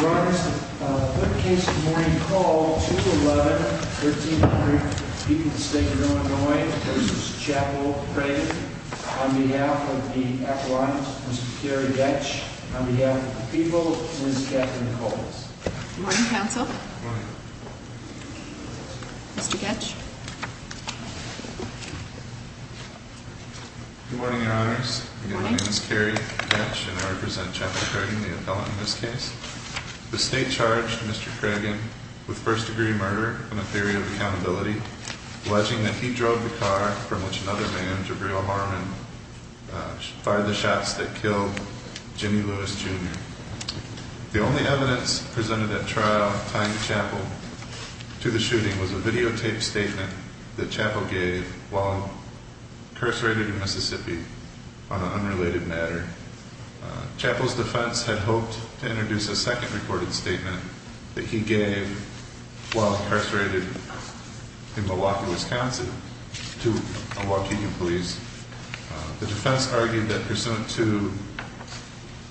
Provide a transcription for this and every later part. Your Honors, the third case of the morning call, 2-11-1300, Peoples State of Illinois v. Chapel Craigen on behalf of the appellant, Mr. Kerry Goetsch, on behalf of the people, Ms. Catherine Coles. Good morning, counsel. Good morning. Mr. Goetsch. Good morning, Your Honors. My name is Kerry Goetsch, and I represent Chapel Craigen, the appellant in this case. The state charged Mr. Craigen with first-degree murder on a theory of accountability, alleging that he drove the car from which another man, Jabril Harmon, fired the shots that killed Jimmy Lewis Jr. The only evidence presented at trial tying Chapel to the shooting was a videotaped statement that Chapel gave while incarcerated in Mississippi on an unrelated matter. Chapel's defense had hoped to introduce a second recorded statement that he gave while incarcerated in Milwaukee, Wisconsin, to Milwaukee police. The defense argued that pursuant to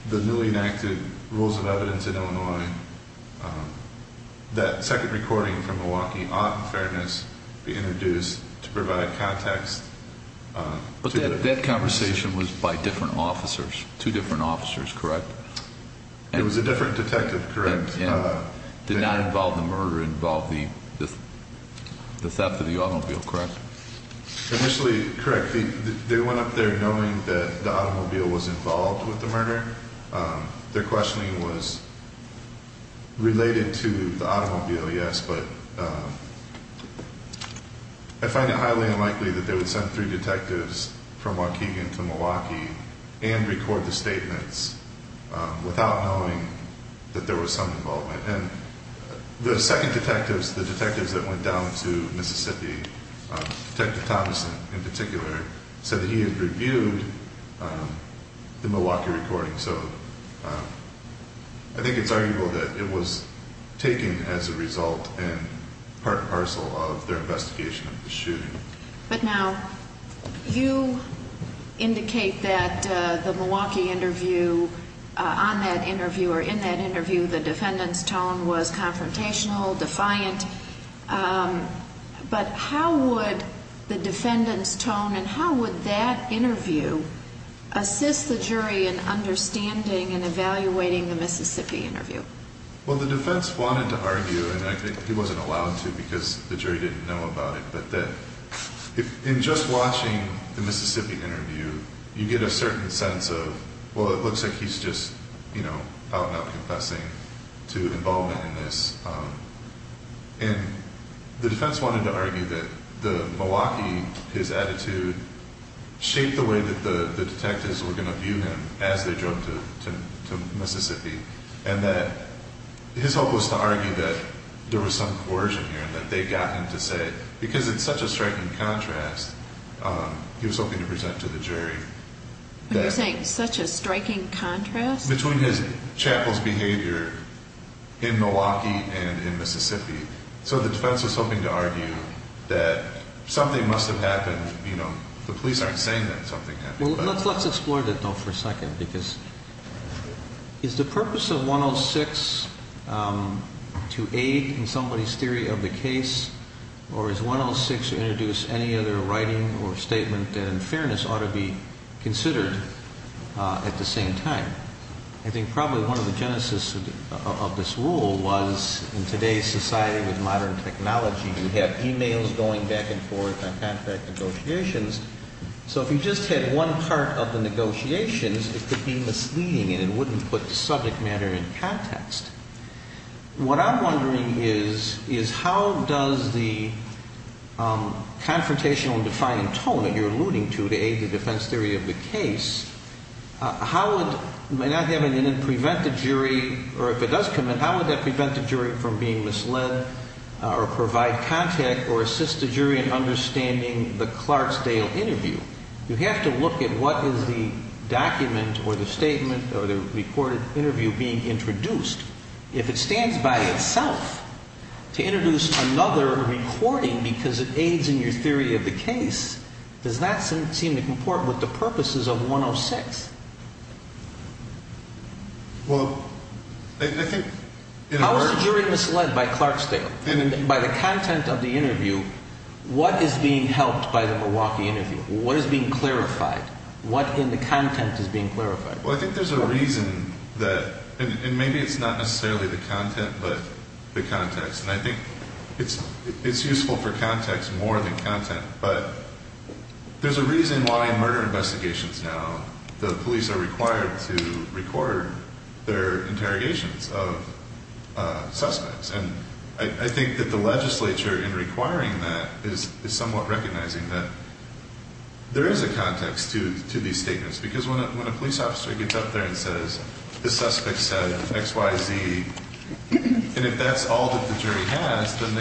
the newly enacted rules of evidence in Illinois, that second recording from Milwaukee ought, in fairness, to be introduced to provide context. But that conversation was by different officers, two different officers, correct? It was a different detective, correct? And did not involve the murder, involve the theft of the automobile, correct? Initially, correct. They went up there knowing that the automobile was involved with the murder. Their questioning was related to the automobile, yes, but I find it highly unlikely that they would send three detectives from Waukegan to Milwaukee and record the statements without knowing that there was some involvement. And the second detectives, the detectives that went down to Mississippi, Detective Thomas in particular, said that he had reviewed the Milwaukee recording. So I think it's arguable that it was taken as a result and part and parcel of their investigation of the shooting. But now, you indicate that the Milwaukee interview, on that interview or in that interview, the defendant's tone was confrontational, defiant, but how would the defendant's tone and how would that interview assist the jury in understanding and evaluating the Mississippi interview? Well, the defense wanted to argue, and I think he wasn't allowed to because the jury didn't know about it, but that in just watching the Mississippi interview, you get a certain sense of, well, it looks like he's just, you know, out and out confessing to involvement in this. And the defense wanted to argue that the Milwaukee, his attitude, shaped the way that the detectives were going to view him as they drove to Mississippi and that his hope was to argue that there was some coercion here and that they got him to say, because it's such a striking contrast, he was hoping to present to the jury. You're saying such a striking contrast? Between his chapel's behavior in Milwaukee and in Mississippi. So the defense was hoping to argue that something must have happened, you know, the police aren't saying that something happened. Well, let's explore that, though, for a second, because is the purpose of 106 to aid in somebody's theory of the case or is 106 to introduce any other writing or statement that in fairness ought to be considered at the same time? I think probably one of the genesis of this rule was in today's society with modern technology, you have e-mails going back and forth on contract negotiations. So if you just had one part of the negotiations, it could be misleading and it wouldn't put the subject matter in context. What I'm wondering is, is how does the confrontational and defiant tone that you're alluding to to aid the defense theory of the case, how would, may not have it in it, prevent the jury, or if it does come in, how would that prevent the jury from being misled or provide contact or assist the jury in understanding the Clarksdale interview? You have to look at what is the document or the statement or the recorded interview being introduced. If it stands by itself to introduce another recording because it aids in your theory of the case, does that seem to comport with the purposes of 106? How is the jury misled by Clarksdale? By the content of the interview, what is being helped by the Milwaukee interview? What is being clarified? What in the content is being clarified? Well, I think there's a reason that, and maybe it's not necessarily the content, but the context, and I think it's useful for context more than content, but there's a reason why in murder investigations now the police are required to record their interrogations of suspects, and I think that the legislature in requiring that is somewhat recognizing that there is a context to these statements because when a police officer gets up there and says, the suspect said X, Y, Z, and if that's all that the jury has, then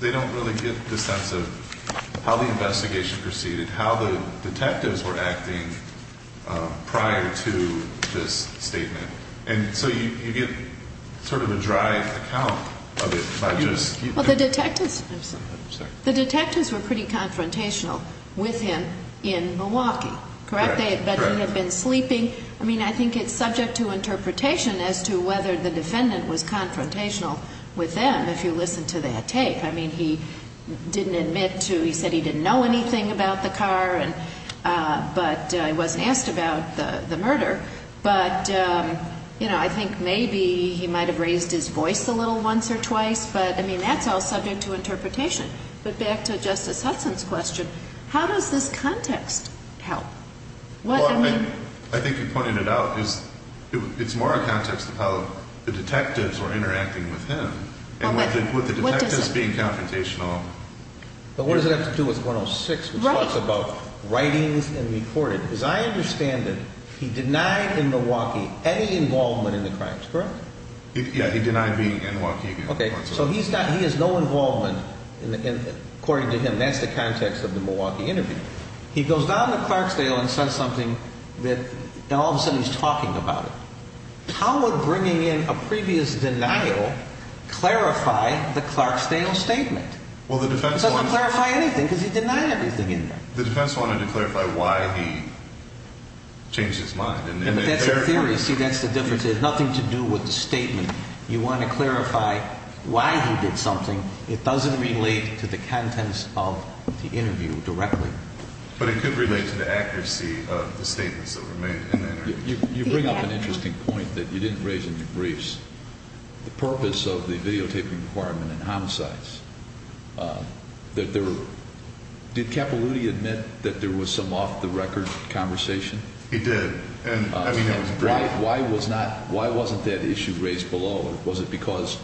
they don't really get the sense of how the investigation proceeded, how the detectives were acting prior to this statement. And so you get sort of a dry account of it by just... Well, the detectives were pretty confrontational with him in Milwaukee, correct? They had been sleeping. I mean, I think it's subject to interpretation as to whether the defendant was confrontational with them, if you listen to that tape. I mean, he didn't admit to, he said he didn't know anything about the car, but he wasn't asked about the murder, but, you know, I think maybe he might have raised his voice a little once or twice, but, I mean, that's all subject to interpretation. But back to Justice Hudson's question, how does this context help? Well, I think you pointed it out, it's more a context of how the detectives were interacting with him and with the detectives being confrontational. But what does it have to do with 106, which talks about writings and recording? Because I understand that he denied in Milwaukee any involvement in the crimes, correct? Yeah, he denied being in Milwaukee. Okay, so he has no involvement, according to him, that's the context of the Milwaukee interview. He goes down to Clarksdale and says something, and all of a sudden he's talking about it. How would bringing in a previous denial clarify the Clarksdale statement? It doesn't clarify anything because he denied everything in there. The defense wanted to clarify why he changed his mind. That's a theory, see, that's the difference. It has nothing to do with the statement. You want to clarify why he did something. It doesn't relate to the contents of the interview directly. But it could relate to the accuracy of the statements that were made in the interview. You bring up an interesting point that you didn't raise in your briefs, the purpose of the videotaping requirement in homicides. Did Capilouthi admit that there was some off-the-record conversation? He did. Why wasn't that issue raised below? Was it because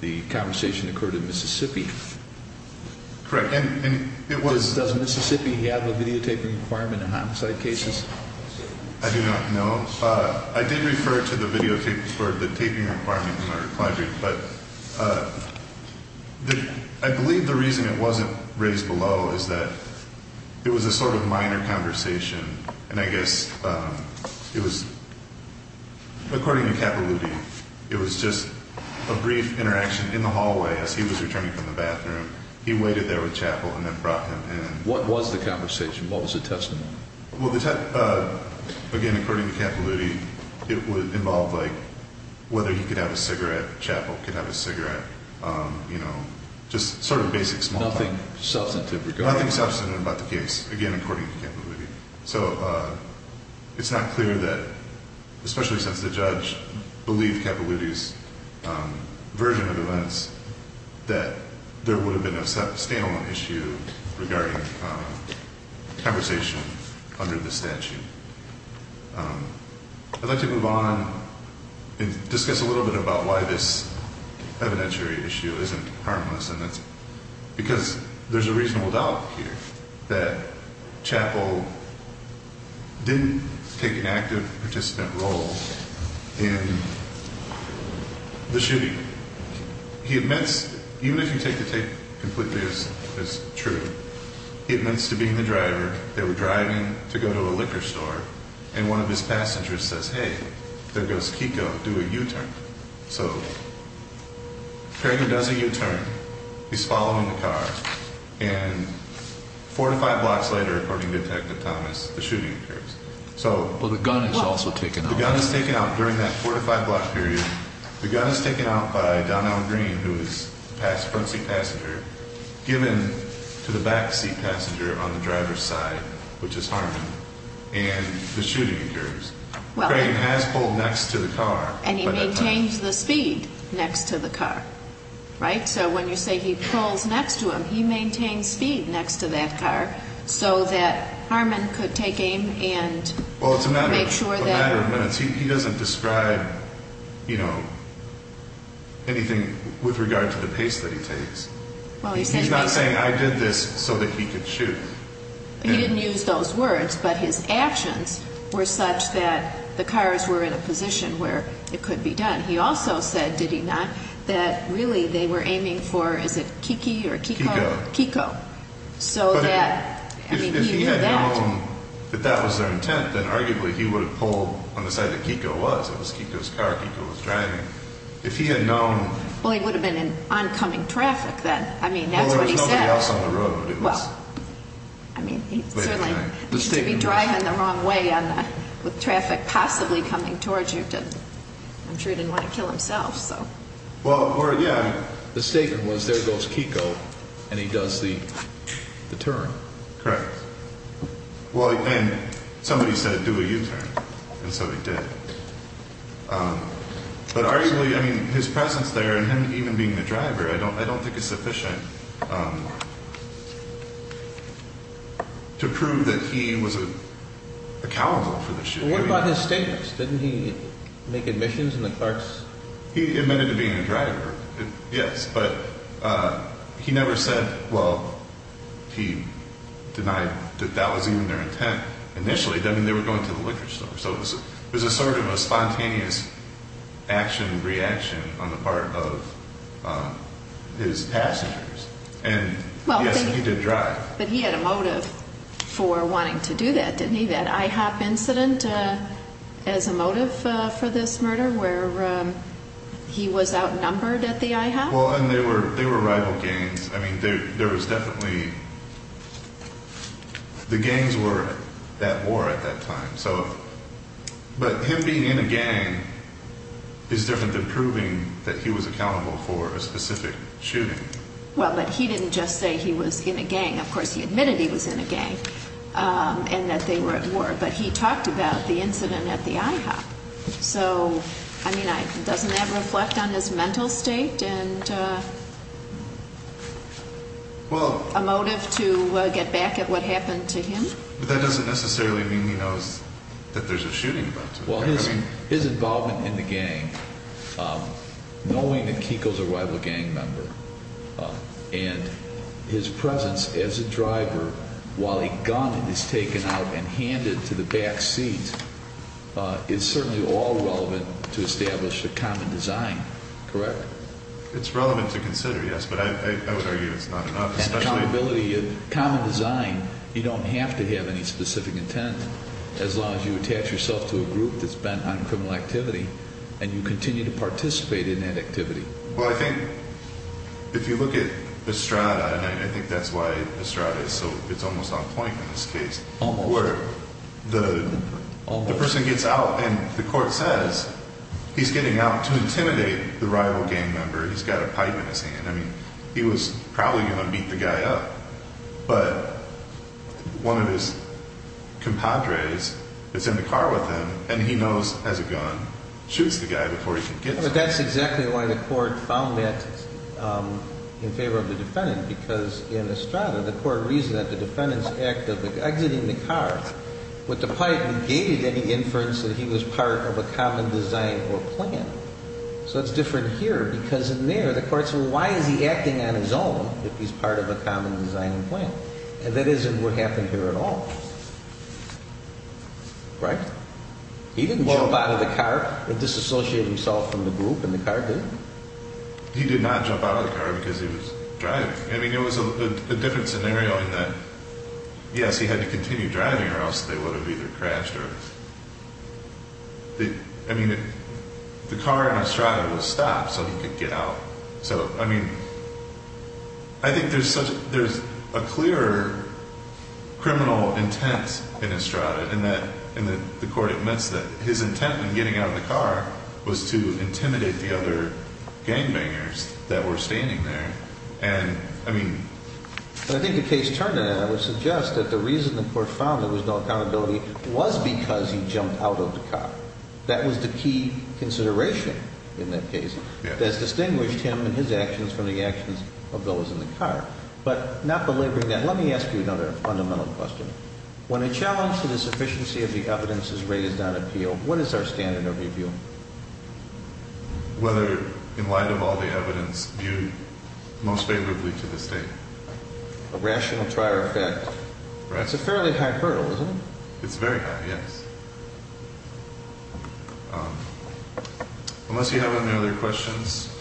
the conversation occurred in Mississippi? Correct. Does Mississippi have a videotaping requirement in homicide cases? I do not know. I did refer to the videotaping requirement in my reply brief, but I believe the reason it wasn't raised below is that it was a sort of minor conversation. And I guess it was, according to Capilouthi, it was just a brief interaction in the hallway as he was returning from the bathroom. He waited there with Chappell and then brought him in. What was the conversation? What was the testimony? Well, again, according to Capilouthi, it involved whether he could have a cigarette. Chappell could have a cigarette. You know, just sort of basic small talk. Nothing substantive regarding that? Nothing substantive about the case, again, according to Capilouthi. So it's not clear that, especially since the judge believed Capilouthi's version of events, that there would have been a standalone issue regarding conversation under the statute. I'd like to move on and discuss a little bit about why this evidentiary issue isn't harmless. Because there's a reasonable doubt here that Chappell didn't take an active participant role in the shooting. He admits, even if you take the tape completely as true, he admits to being the driver. They were driving to go to a liquor store, and one of his passengers says, hey, there goes Kiko, do a U-turn. So Craig does a U-turn. He's following the car. And four to five blocks later, according to Detective Thomas, the shooting occurs. Well, the gun is also taken out. The gun is taken out. During that four to five block period, the gun is taken out by Donald Green, who is the front seat passenger, given to the back seat passenger on the driver's side, which is Harmon, and the shooting occurs. Craig has pulled next to the car. And he maintains the speed next to the car. Right? So when you say he pulls next to him, he maintains speed next to that car so that Harmon could take aim and make sure that— Well, it's a matter of minutes. He doesn't describe, you know, anything with regard to the pace that he takes. He's not saying, I did this so that he could shoot. He didn't use those words, but his actions were such that the cars were in a position where it could be done. He also said, did he not, that really they were aiming for, is it Kiki or Kiko? Kiko. Kiko. So that, I mean, he knew that. But if he had known that that was their intent, then arguably he would have pulled on the side that Kiko was. It was Kiko's car. Kiko was driving. If he had known— Well, he would have been in oncoming traffic then. I mean, that's what he said. Well, I mean, he certainly needs to be driving the wrong way with traffic possibly coming towards you. I'm sure he didn't want to kill himself, so. Well, or, yeah, the statement was, there goes Kiko, and he does the turn. Correct. Well, and somebody said, do a U-turn, and so he did. But arguably, I mean, his presence there and him even being the driver, I don't think is sufficient to prove that he was accountable for the shooting. What about his statements? Didn't he make admissions in the clerks? He admitted to being a driver, yes, but he never said, well, he denied that that was even their intent initially. I mean, they were going to the liquor store. So it was sort of a spontaneous action-reaction on the part of his passengers. And, yes, he did drive. But he had a motive for wanting to do that, didn't he? That IHOP incident as a motive for this murder where he was outnumbered at the IHOP? Well, and they were rival gangs. I mean, there was definitely—the gangs were at war at that time. But him being in a gang is different than proving that he was accountable for a specific shooting. Well, but he didn't just say he was in a gang. Of course, he admitted he was in a gang and that they were at war. But he talked about the incident at the IHOP. So, I mean, doesn't that reflect on his mental state and a motive to get back at what happened to him? But that doesn't necessarily mean he knows that there's a shooting involved. Well, his involvement in the gang, knowing that Kiekel's a rival gang member, and his presence as a driver while a gun is taken out and handed to the back seat, is certainly all relevant to establish the common design, correct? It's relevant to consider, yes. But I would argue it's not enough, especially— as long as you attach yourself to a group that's bent on criminal activity and you continue to participate in that activity. Well, I think if you look at Estrada, and I think that's why Estrada is so—it's almost on point in this case. Almost. Where the person gets out and the court says he's getting out to intimidate the rival gang member. He's got a pipe in his hand. I mean, he was probably going to beat the guy up. But one of his compadres is in the car with him, and he knows, as a gun, shoots the guy before he can get to him. But that's exactly why the court found that in favor of the defendant, because in Estrada the court reasoned that the defendant's act of exiting the car with the pipe negated any inference that he was part of a common design or plan. So it's different here because in there the court said, So why is he acting on his own if he's part of a common design or plan? That isn't what happened here at all. Right? He didn't jump out of the car and disassociate himself from the group in the car, did he? He did not jump out of the car because he was driving. I mean, it was a different scenario in that, yes, he had to continue driving or else they would have either crashed or— I mean, the car in Estrada was stopped so he could get out. So, I mean, I think there's a clear criminal intent in Estrada in that the court admits that his intent in getting out of the car was to intimidate the other gangbangers that were standing there. And, I mean— I think the case turned to that. I would suggest that the reason the court found there was no accountability was because he jumped out of the car. That was the key consideration in that case that distinguished him and his actions from the actions of those in the car. But not belaboring that, let me ask you another fundamental question. When a challenge to the sufficiency of the evidence is raised on appeal, what is our standard of review? Whether, in light of all the evidence, viewed most favorably to the State. A rational trial effect. That's a fairly high hurdle, isn't it? It's very high, yes. Unless you have any other questions,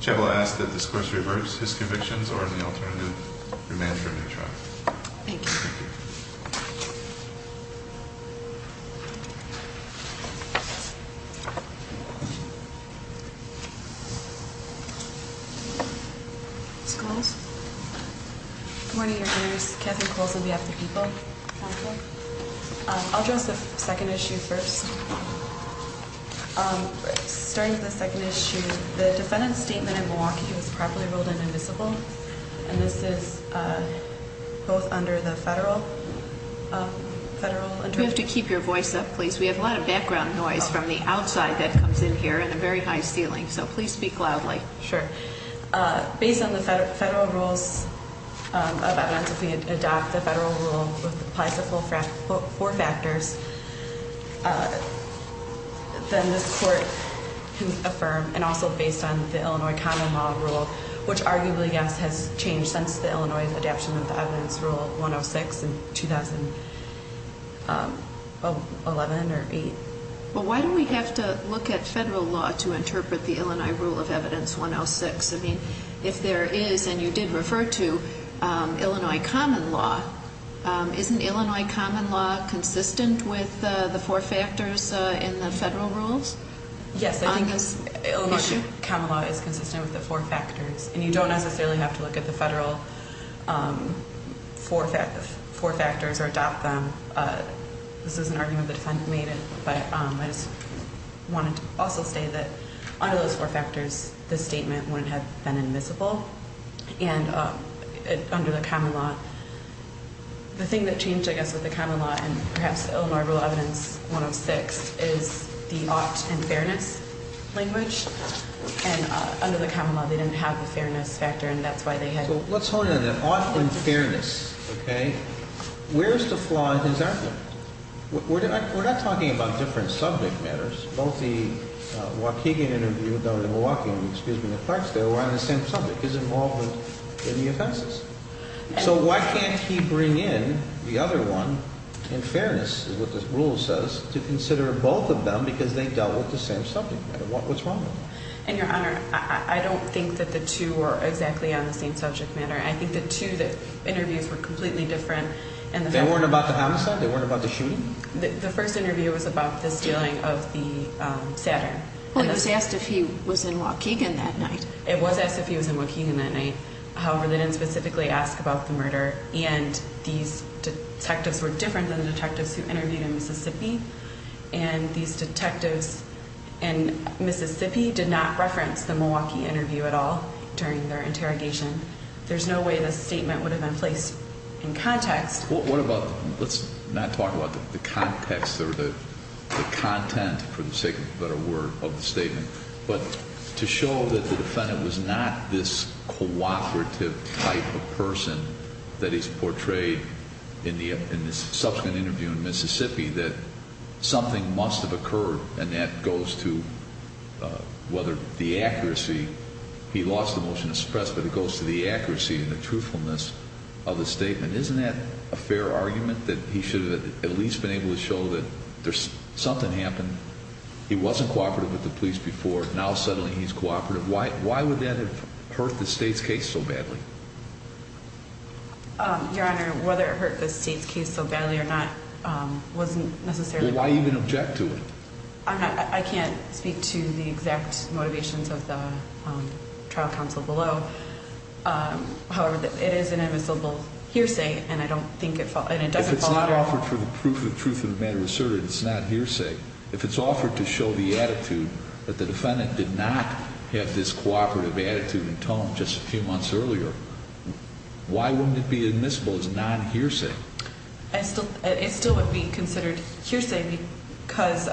Jeb will ask that this course reverse his convictions or in the alternative, remain for a new trial. Thank you. Ms. Coles? Good morning, Your Honors. This is Kathryn Coles on behalf of the People Council. I'll address the second issue first. Starting with the second issue, the defendant's statement in Milwaukee was properly ruled an invisible. And this is both under the federal— You have to keep your voice up, please. We have a lot of background noise from the outside that comes in here and a very high ceiling, so please speak loudly. Sure. Based on the federal rules of evidence, if we adopt the federal rule that applies to four factors, then this Court can affirm, and also based on the Illinois Common Law rule, which arguably, yes, has changed since the Illinois Adaption of the Evidence Rule 106 in 2011 or 8. Well, why do we have to look at federal law to interpret the Illinois Rule of Evidence 106? I mean, if there is, and you did refer to Illinois Common Law, isn't Illinois Common Law consistent with the four factors in the federal rules on this issue? Yes, I think Illinois Common Law is consistent with the four factors, and you don't necessarily have to look at the federal four factors or adopt them. This is an argument that the defendant made, but I just wanted to also say that under those four factors, this statement wouldn't have been admissible. And under the Common Law, the thing that changed, I guess, with the Common Law and perhaps the Illinois Rule of Evidence 106 is the ought and fairness language. And under the Common Law, they didn't have the fairness factor, and that's why they had— Let's hold on to that. Ought and fairness, okay? Where's the flaw in his argument? We're not talking about different subject matters. Both the Waukegan interview, the Milwaukee one, excuse me, the Clarksdale, were on the same subject. He's involved in the offenses. So why can't he bring in the other one, in fairness, is what this rule says, to consider both of them because they dealt with the same subject matter? What's wrong with that? And, Your Honor, I don't think that the two were exactly on the same subject matter. I think the two interviews were completely different. They weren't about the homicide? They weren't about the shooting? The first interview was about the stealing of the Saturn. Well, it was asked if he was in Waukegan that night. It was asked if he was in Waukegan that night. However, they didn't specifically ask about the murder, and these detectives were different than the detectives who interviewed in Mississippi, and these detectives in Mississippi did not reference the Milwaukee interview at all during their interrogation. There's no way this statement would have been placed in context. What about, let's not talk about the context or the content, for the sake of a better word, of the statement, but to show that the defendant was not this cooperative type of person that he's portrayed in the subsequent interview in Mississippi, that something must have occurred, and that goes to whether the accuracy, he lost the motion to suppress, but it goes to the accuracy and the truthfulness of the statement. Isn't that a fair argument, that he should have at least been able to show that something happened? He wasn't cooperative with the police before. Now, suddenly, he's cooperative. Why would that have hurt the state's case so badly? Your Honor, whether it hurt the state's case so badly or not wasn't necessarily the point. Well, why even object to it? I can't speak to the exact motivations of the trial counsel below. However, it is an admissible hearsay, and I don't think it doesn't fall under— If it's not offered for the proof of truth of the matter asserted, it's not hearsay. If it's offered to show the attitude that the defendant did not have this cooperative attitude and tone just a few months earlier, why wouldn't it be admissible as a non-hearsay? It still would be considered hearsay because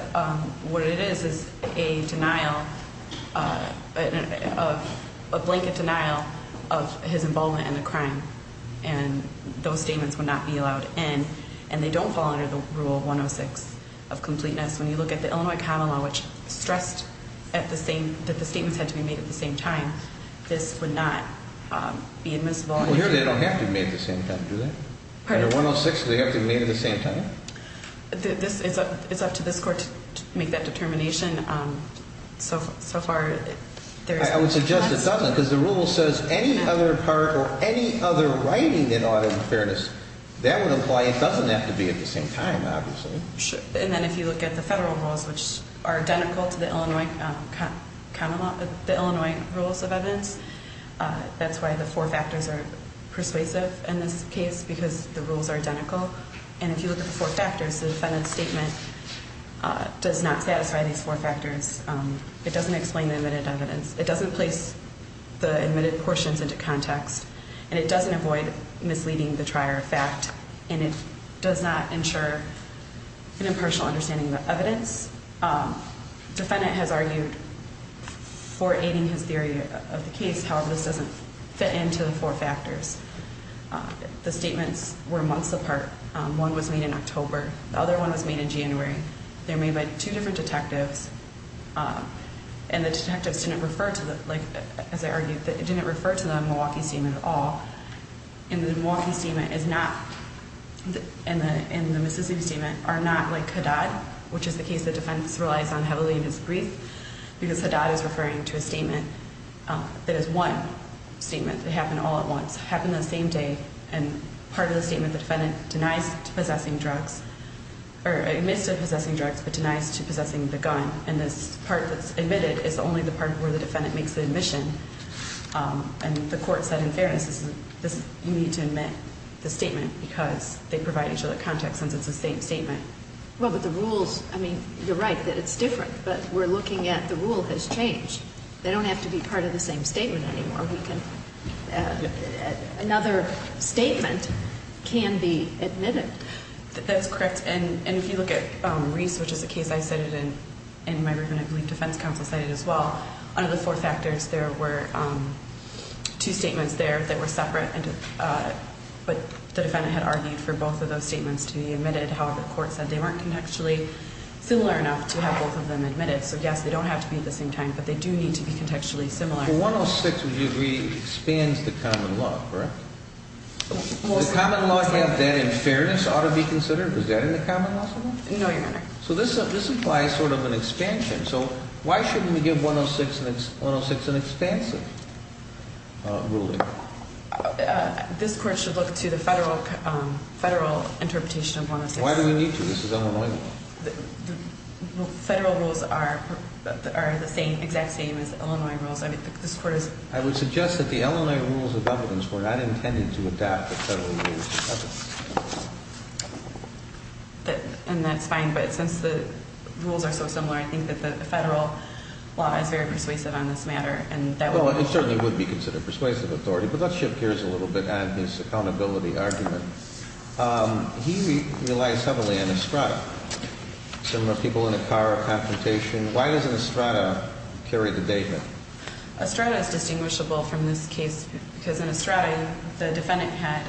what it is is a denial, a blanket denial of his involvement in the crime, and those statements would not be allowed in, and they don't fall under the Rule 106 of completeness. When you look at the Illinois Common Law, which stressed that the statements had to be made at the same time, this would not be admissible. Well, here they don't have to be made at the same time, do they? Under 106, they have to be made at the same time? It's up to this Court to make that determination. So far, there's— I would suggest it doesn't because the rule says any other part or any other writing in audit and fairness, that would imply it doesn't have to be at the same time, obviously. And then if you look at the federal rules, which are identical to the Illinois Common Law, the Illinois Rules of Evidence, that's why the four factors are persuasive in this case because the rules are identical. And if you look at the four factors, the defendant's statement does not satisfy these four factors. It doesn't explain the admitted evidence. It doesn't place the admitted portions into context, and it doesn't avoid misleading the trier of fact, and it does not ensure an impartial understanding of the evidence. The defendant has argued for aiding his theory of the case. However, this doesn't fit into the four factors. The statements were months apart. One was made in October. The other one was made in January. They were made by two different detectives, and the detectives didn't refer to the— like, as I argued, it didn't refer to the Milwaukee statement at all. And the Milwaukee statement is not, and the Mississippi statement, are not like Haddad, which is the case the defense relies on heavily in his brief, because Haddad is referring to a statement that is one statement that happened all at once, happened the same day, and part of the statement the defendant denies to possessing drugs, or admits to possessing drugs, but denies to possessing the gun, and this part that's admitted is only the part where the defendant makes the admission. And the court said, in fairness, you need to admit the statement because they provide each other context since it's the same statement. Well, but the rules, I mean, you're right that it's different, but we're looking at the rule has changed. They don't have to be part of the same statement anymore. Another statement can be admitted. That's correct, and if you look at Reese, which is a case I cited, and my group, and I believe defense counsel cited as well, under the four factors there were two statements there that were separate, but the defendant had argued for both of those statements to be admitted. However, the court said they weren't contextually similar enough to have both of them admitted. So, yes, they don't have to be at the same time, but they do need to be contextually similar. Well, 106, would you agree, expands the common law, correct? The common law, if you have that in fairness, ought to be considered? Is that in the common law sometimes? No, Your Honor. So this implies sort of an expansion. So why shouldn't we give 106 an expansive ruling? This court should look to the federal interpretation of 106. Why do we need to? This is Illinois law. Federal rules are the exact same as Illinois rules. I would suggest that the Illinois rules of evidence were not intended to adapt the federal rules of evidence. And that's fine, but since the rules are so similar, I think that the federal law is very persuasive on this matter. Well, it certainly would be considered persuasive authority, but let's shift gears a little bit on his accountability argument. He relies heavily on Estrada. Similar people in a car, confrontation. Why doesn't Estrada carry the data? Estrada is distinguishable from this case because in Estrada, the defendant had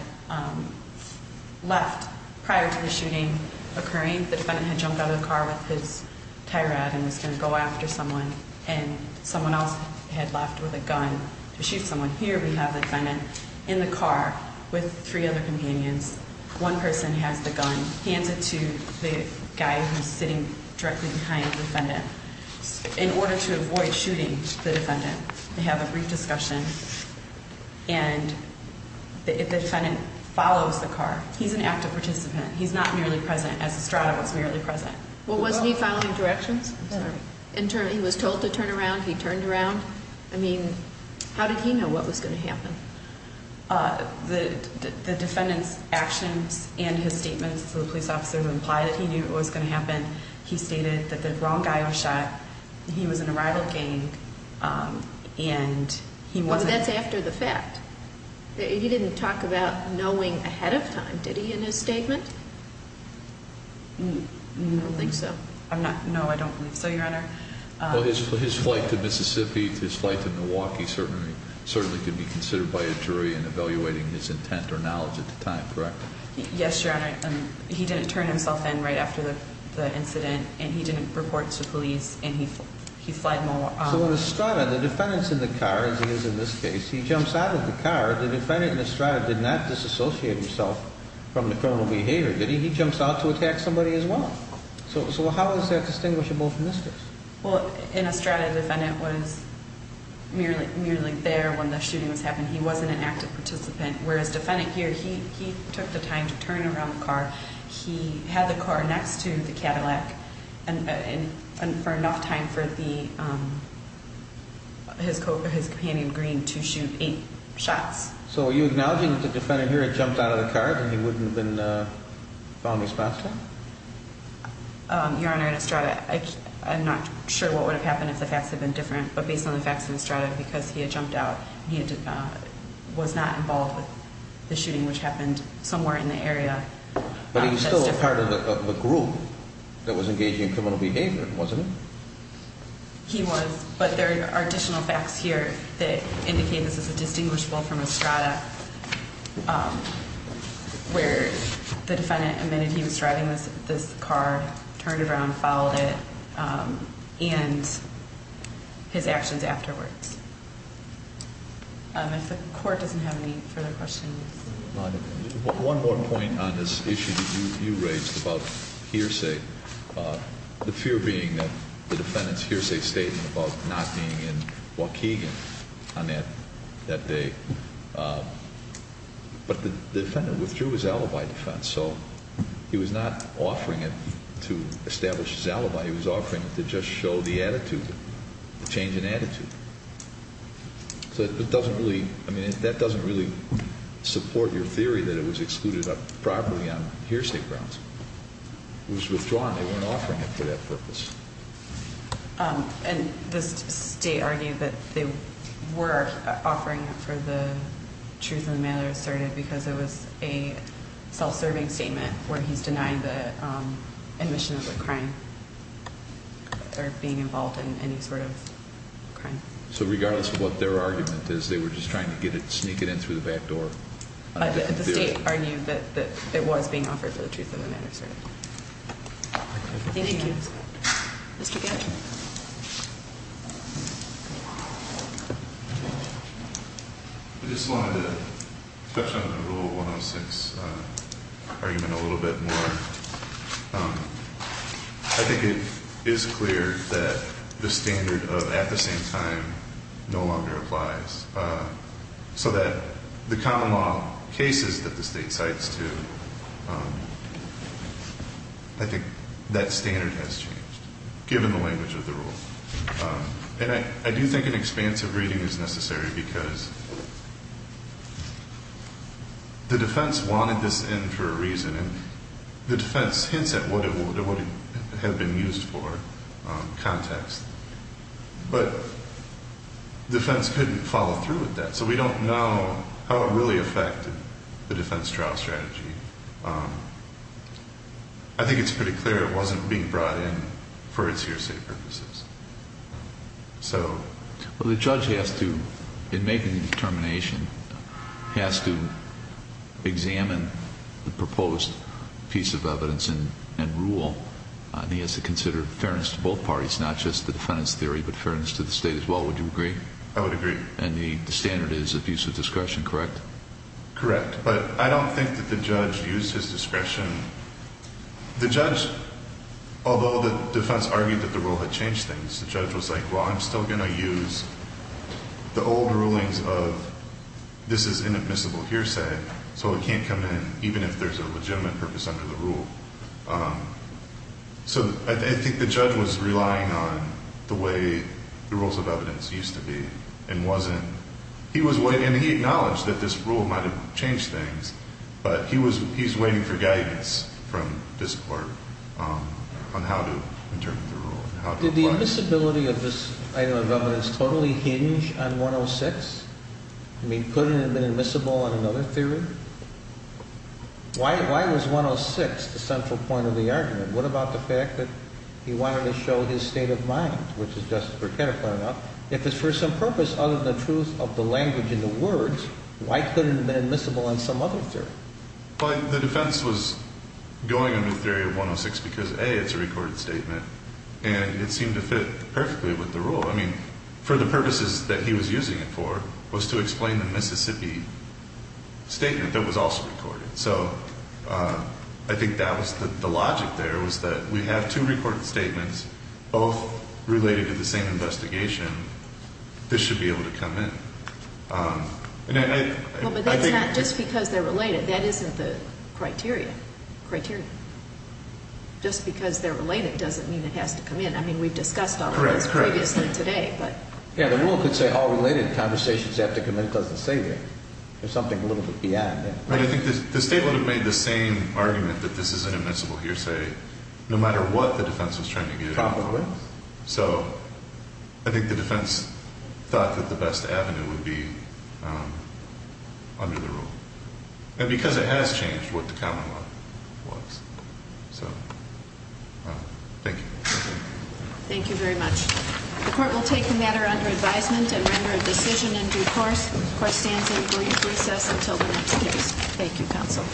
left prior to the shooting occurring. The defendant had jumped out of the car with his tie rod and was going to go after someone, and someone else had left with a gun to shoot someone. Here we have the defendant in the car with three other companions. One person has the gun, hands it to the guy who's sitting directly behind the defendant. In order to avoid shooting the defendant, they have a brief discussion, and the defendant follows the car. He's an active participant. He's not merely present, as Estrada was merely present. Well, was he following directions? He was told to turn around. He turned around. I mean, how did he know what was going to happen? The defendant's actions and his statements to the police officer imply that he knew what was going to happen. He stated that the wrong guy was shot, he was in a rival gang, and he wasn't. But that's after the fact. He didn't talk about knowing ahead of time, did he, in his statement? I don't think so. No, I don't believe so, Your Honor. Well, his flight to Mississippi, his flight to Milwaukee certainly could be considered by a jury in evaluating his intent or knowledge at the time, correct? Yes, Your Honor. He didn't turn himself in right after the incident, and he didn't report to police, and he flied more. So in Estrada, the defendant's in the car, as he is in this case. He jumps out of the car. The defendant in Estrada did not disassociate himself from the criminal behavior, did he? He jumps out to attack somebody as well. So how is that distinguishable from this case? Well, in Estrada, the defendant was merely there when the shooting was happening. He wasn't an active participant, whereas the defendant here, he took the time to turn around the car. He had the car next to the Cadillac for enough time for his companion, Green, to shoot eight shots. So are you acknowledging that the defendant here had jumped out of the car, and he wouldn't have been found responsible? Your Honor, in Estrada, I'm not sure what would have happened if the facts had been different, but based on the facts in Estrada, because he had jumped out, he was not involved with the shooting, which happened somewhere in the area. But he was still a part of the group that was engaging in criminal behavior, wasn't he? He was, but there are additional facts here that indicate this is a distinguishable from Estrada, where the defendant admitted he was driving this car, turned around, followed it, and his actions afterwards. If the Court doesn't have any further questions. One more point on this issue that you raised about hearsay, the fear being that the defendant's hearsay statement about not being in Waukegan on that day. But the defendant withdrew his alibi defense, so he was not offering it to establish his alibi. He was offering it to just show the attitude, the change in attitude. So it doesn't really, I mean, that doesn't really support your theory that it was excluded properly on hearsay grounds. It was withdrawn. They weren't offering it for that purpose. And the state argued that they were offering it for the truth of the matter asserted because it was a self-serving statement where he's denying the admission of a crime or being involved in any sort of crime. So regardless of what their argument is, they were just trying to sneak it in through the back door? The state argued that it was being offered for the truth of the matter asserted. Thank you. Thank you. Mr. Gatch? I just wanted to touch on the Rule 106 argument a little bit more. I think it is clear that the standard of at the same time no longer applies, so that the common law cases that the state cites too, I think that standard has changed. Given the language of the rule. And I do think an expansive reading is necessary because the defense wanted this in for a reason. And the defense hints at what it would have been used for, context. But the defense couldn't follow through with that. So we don't know how it really affected the defense trial strategy. I think it's pretty clear it wasn't being brought in for its hearsay purposes. So... Well, the judge has to, in making the determination, has to examine the proposed piece of evidence and rule. And he has to consider fairness to both parties, not just the defendant's theory, but fairness to the state as well. Would you agree? I would agree. And the standard is abuse of discretion, correct? Correct. But I don't think that the judge used his discretion. The judge, although the defense argued that the rule had changed things, the judge was like, well, I'm still going to use the old rulings of this is inadmissible hearsay, so it can't come in even if there's a legitimate purpose under the rule. So I think the judge was relying on the way the rules of evidence used to be and wasn't. And he acknowledged that this rule might have changed things, but he's waiting for guidance from this Court on how to interpret the rule and how to apply it. Did the admissibility of this item of evidence totally hinge on 106? I mean, couldn't it have been admissible on another theory? Why was 106 the central point of the argument? What about the fact that he wanted to show his state of mind, which is just to put it bluntly, if it's for some purpose other than the truth of the language in the words, why couldn't it have been admissible on some other theory? Well, the defense was going under the theory of 106 because, A, it's a recorded statement, and it seemed to fit perfectly with the rule. I mean, for the purposes that he was using it for was to explain the Mississippi statement that was also recorded. So I think that was the logic there was that we have two recorded statements, both related to the same investigation. This should be able to come in. Well, but that's not just because they're related. That isn't the criteria. Just because they're related doesn't mean it has to come in. I mean, we've discussed all of this previously today. Yeah, the rule could say all related conversations have to come in because the statement. There's something a little bit beyond that. But I think the statement would have made the same argument that this is an admissible hearsay no matter what the defense was trying to get at. Probably. So I think the defense thought that the best avenue would be under the rule. And because it has changed what the common law was. So thank you. Thank you very much. The court will take the matter under advisement and render a decision in due course. The court stands in brief recess until the next case. Thank you, counsel.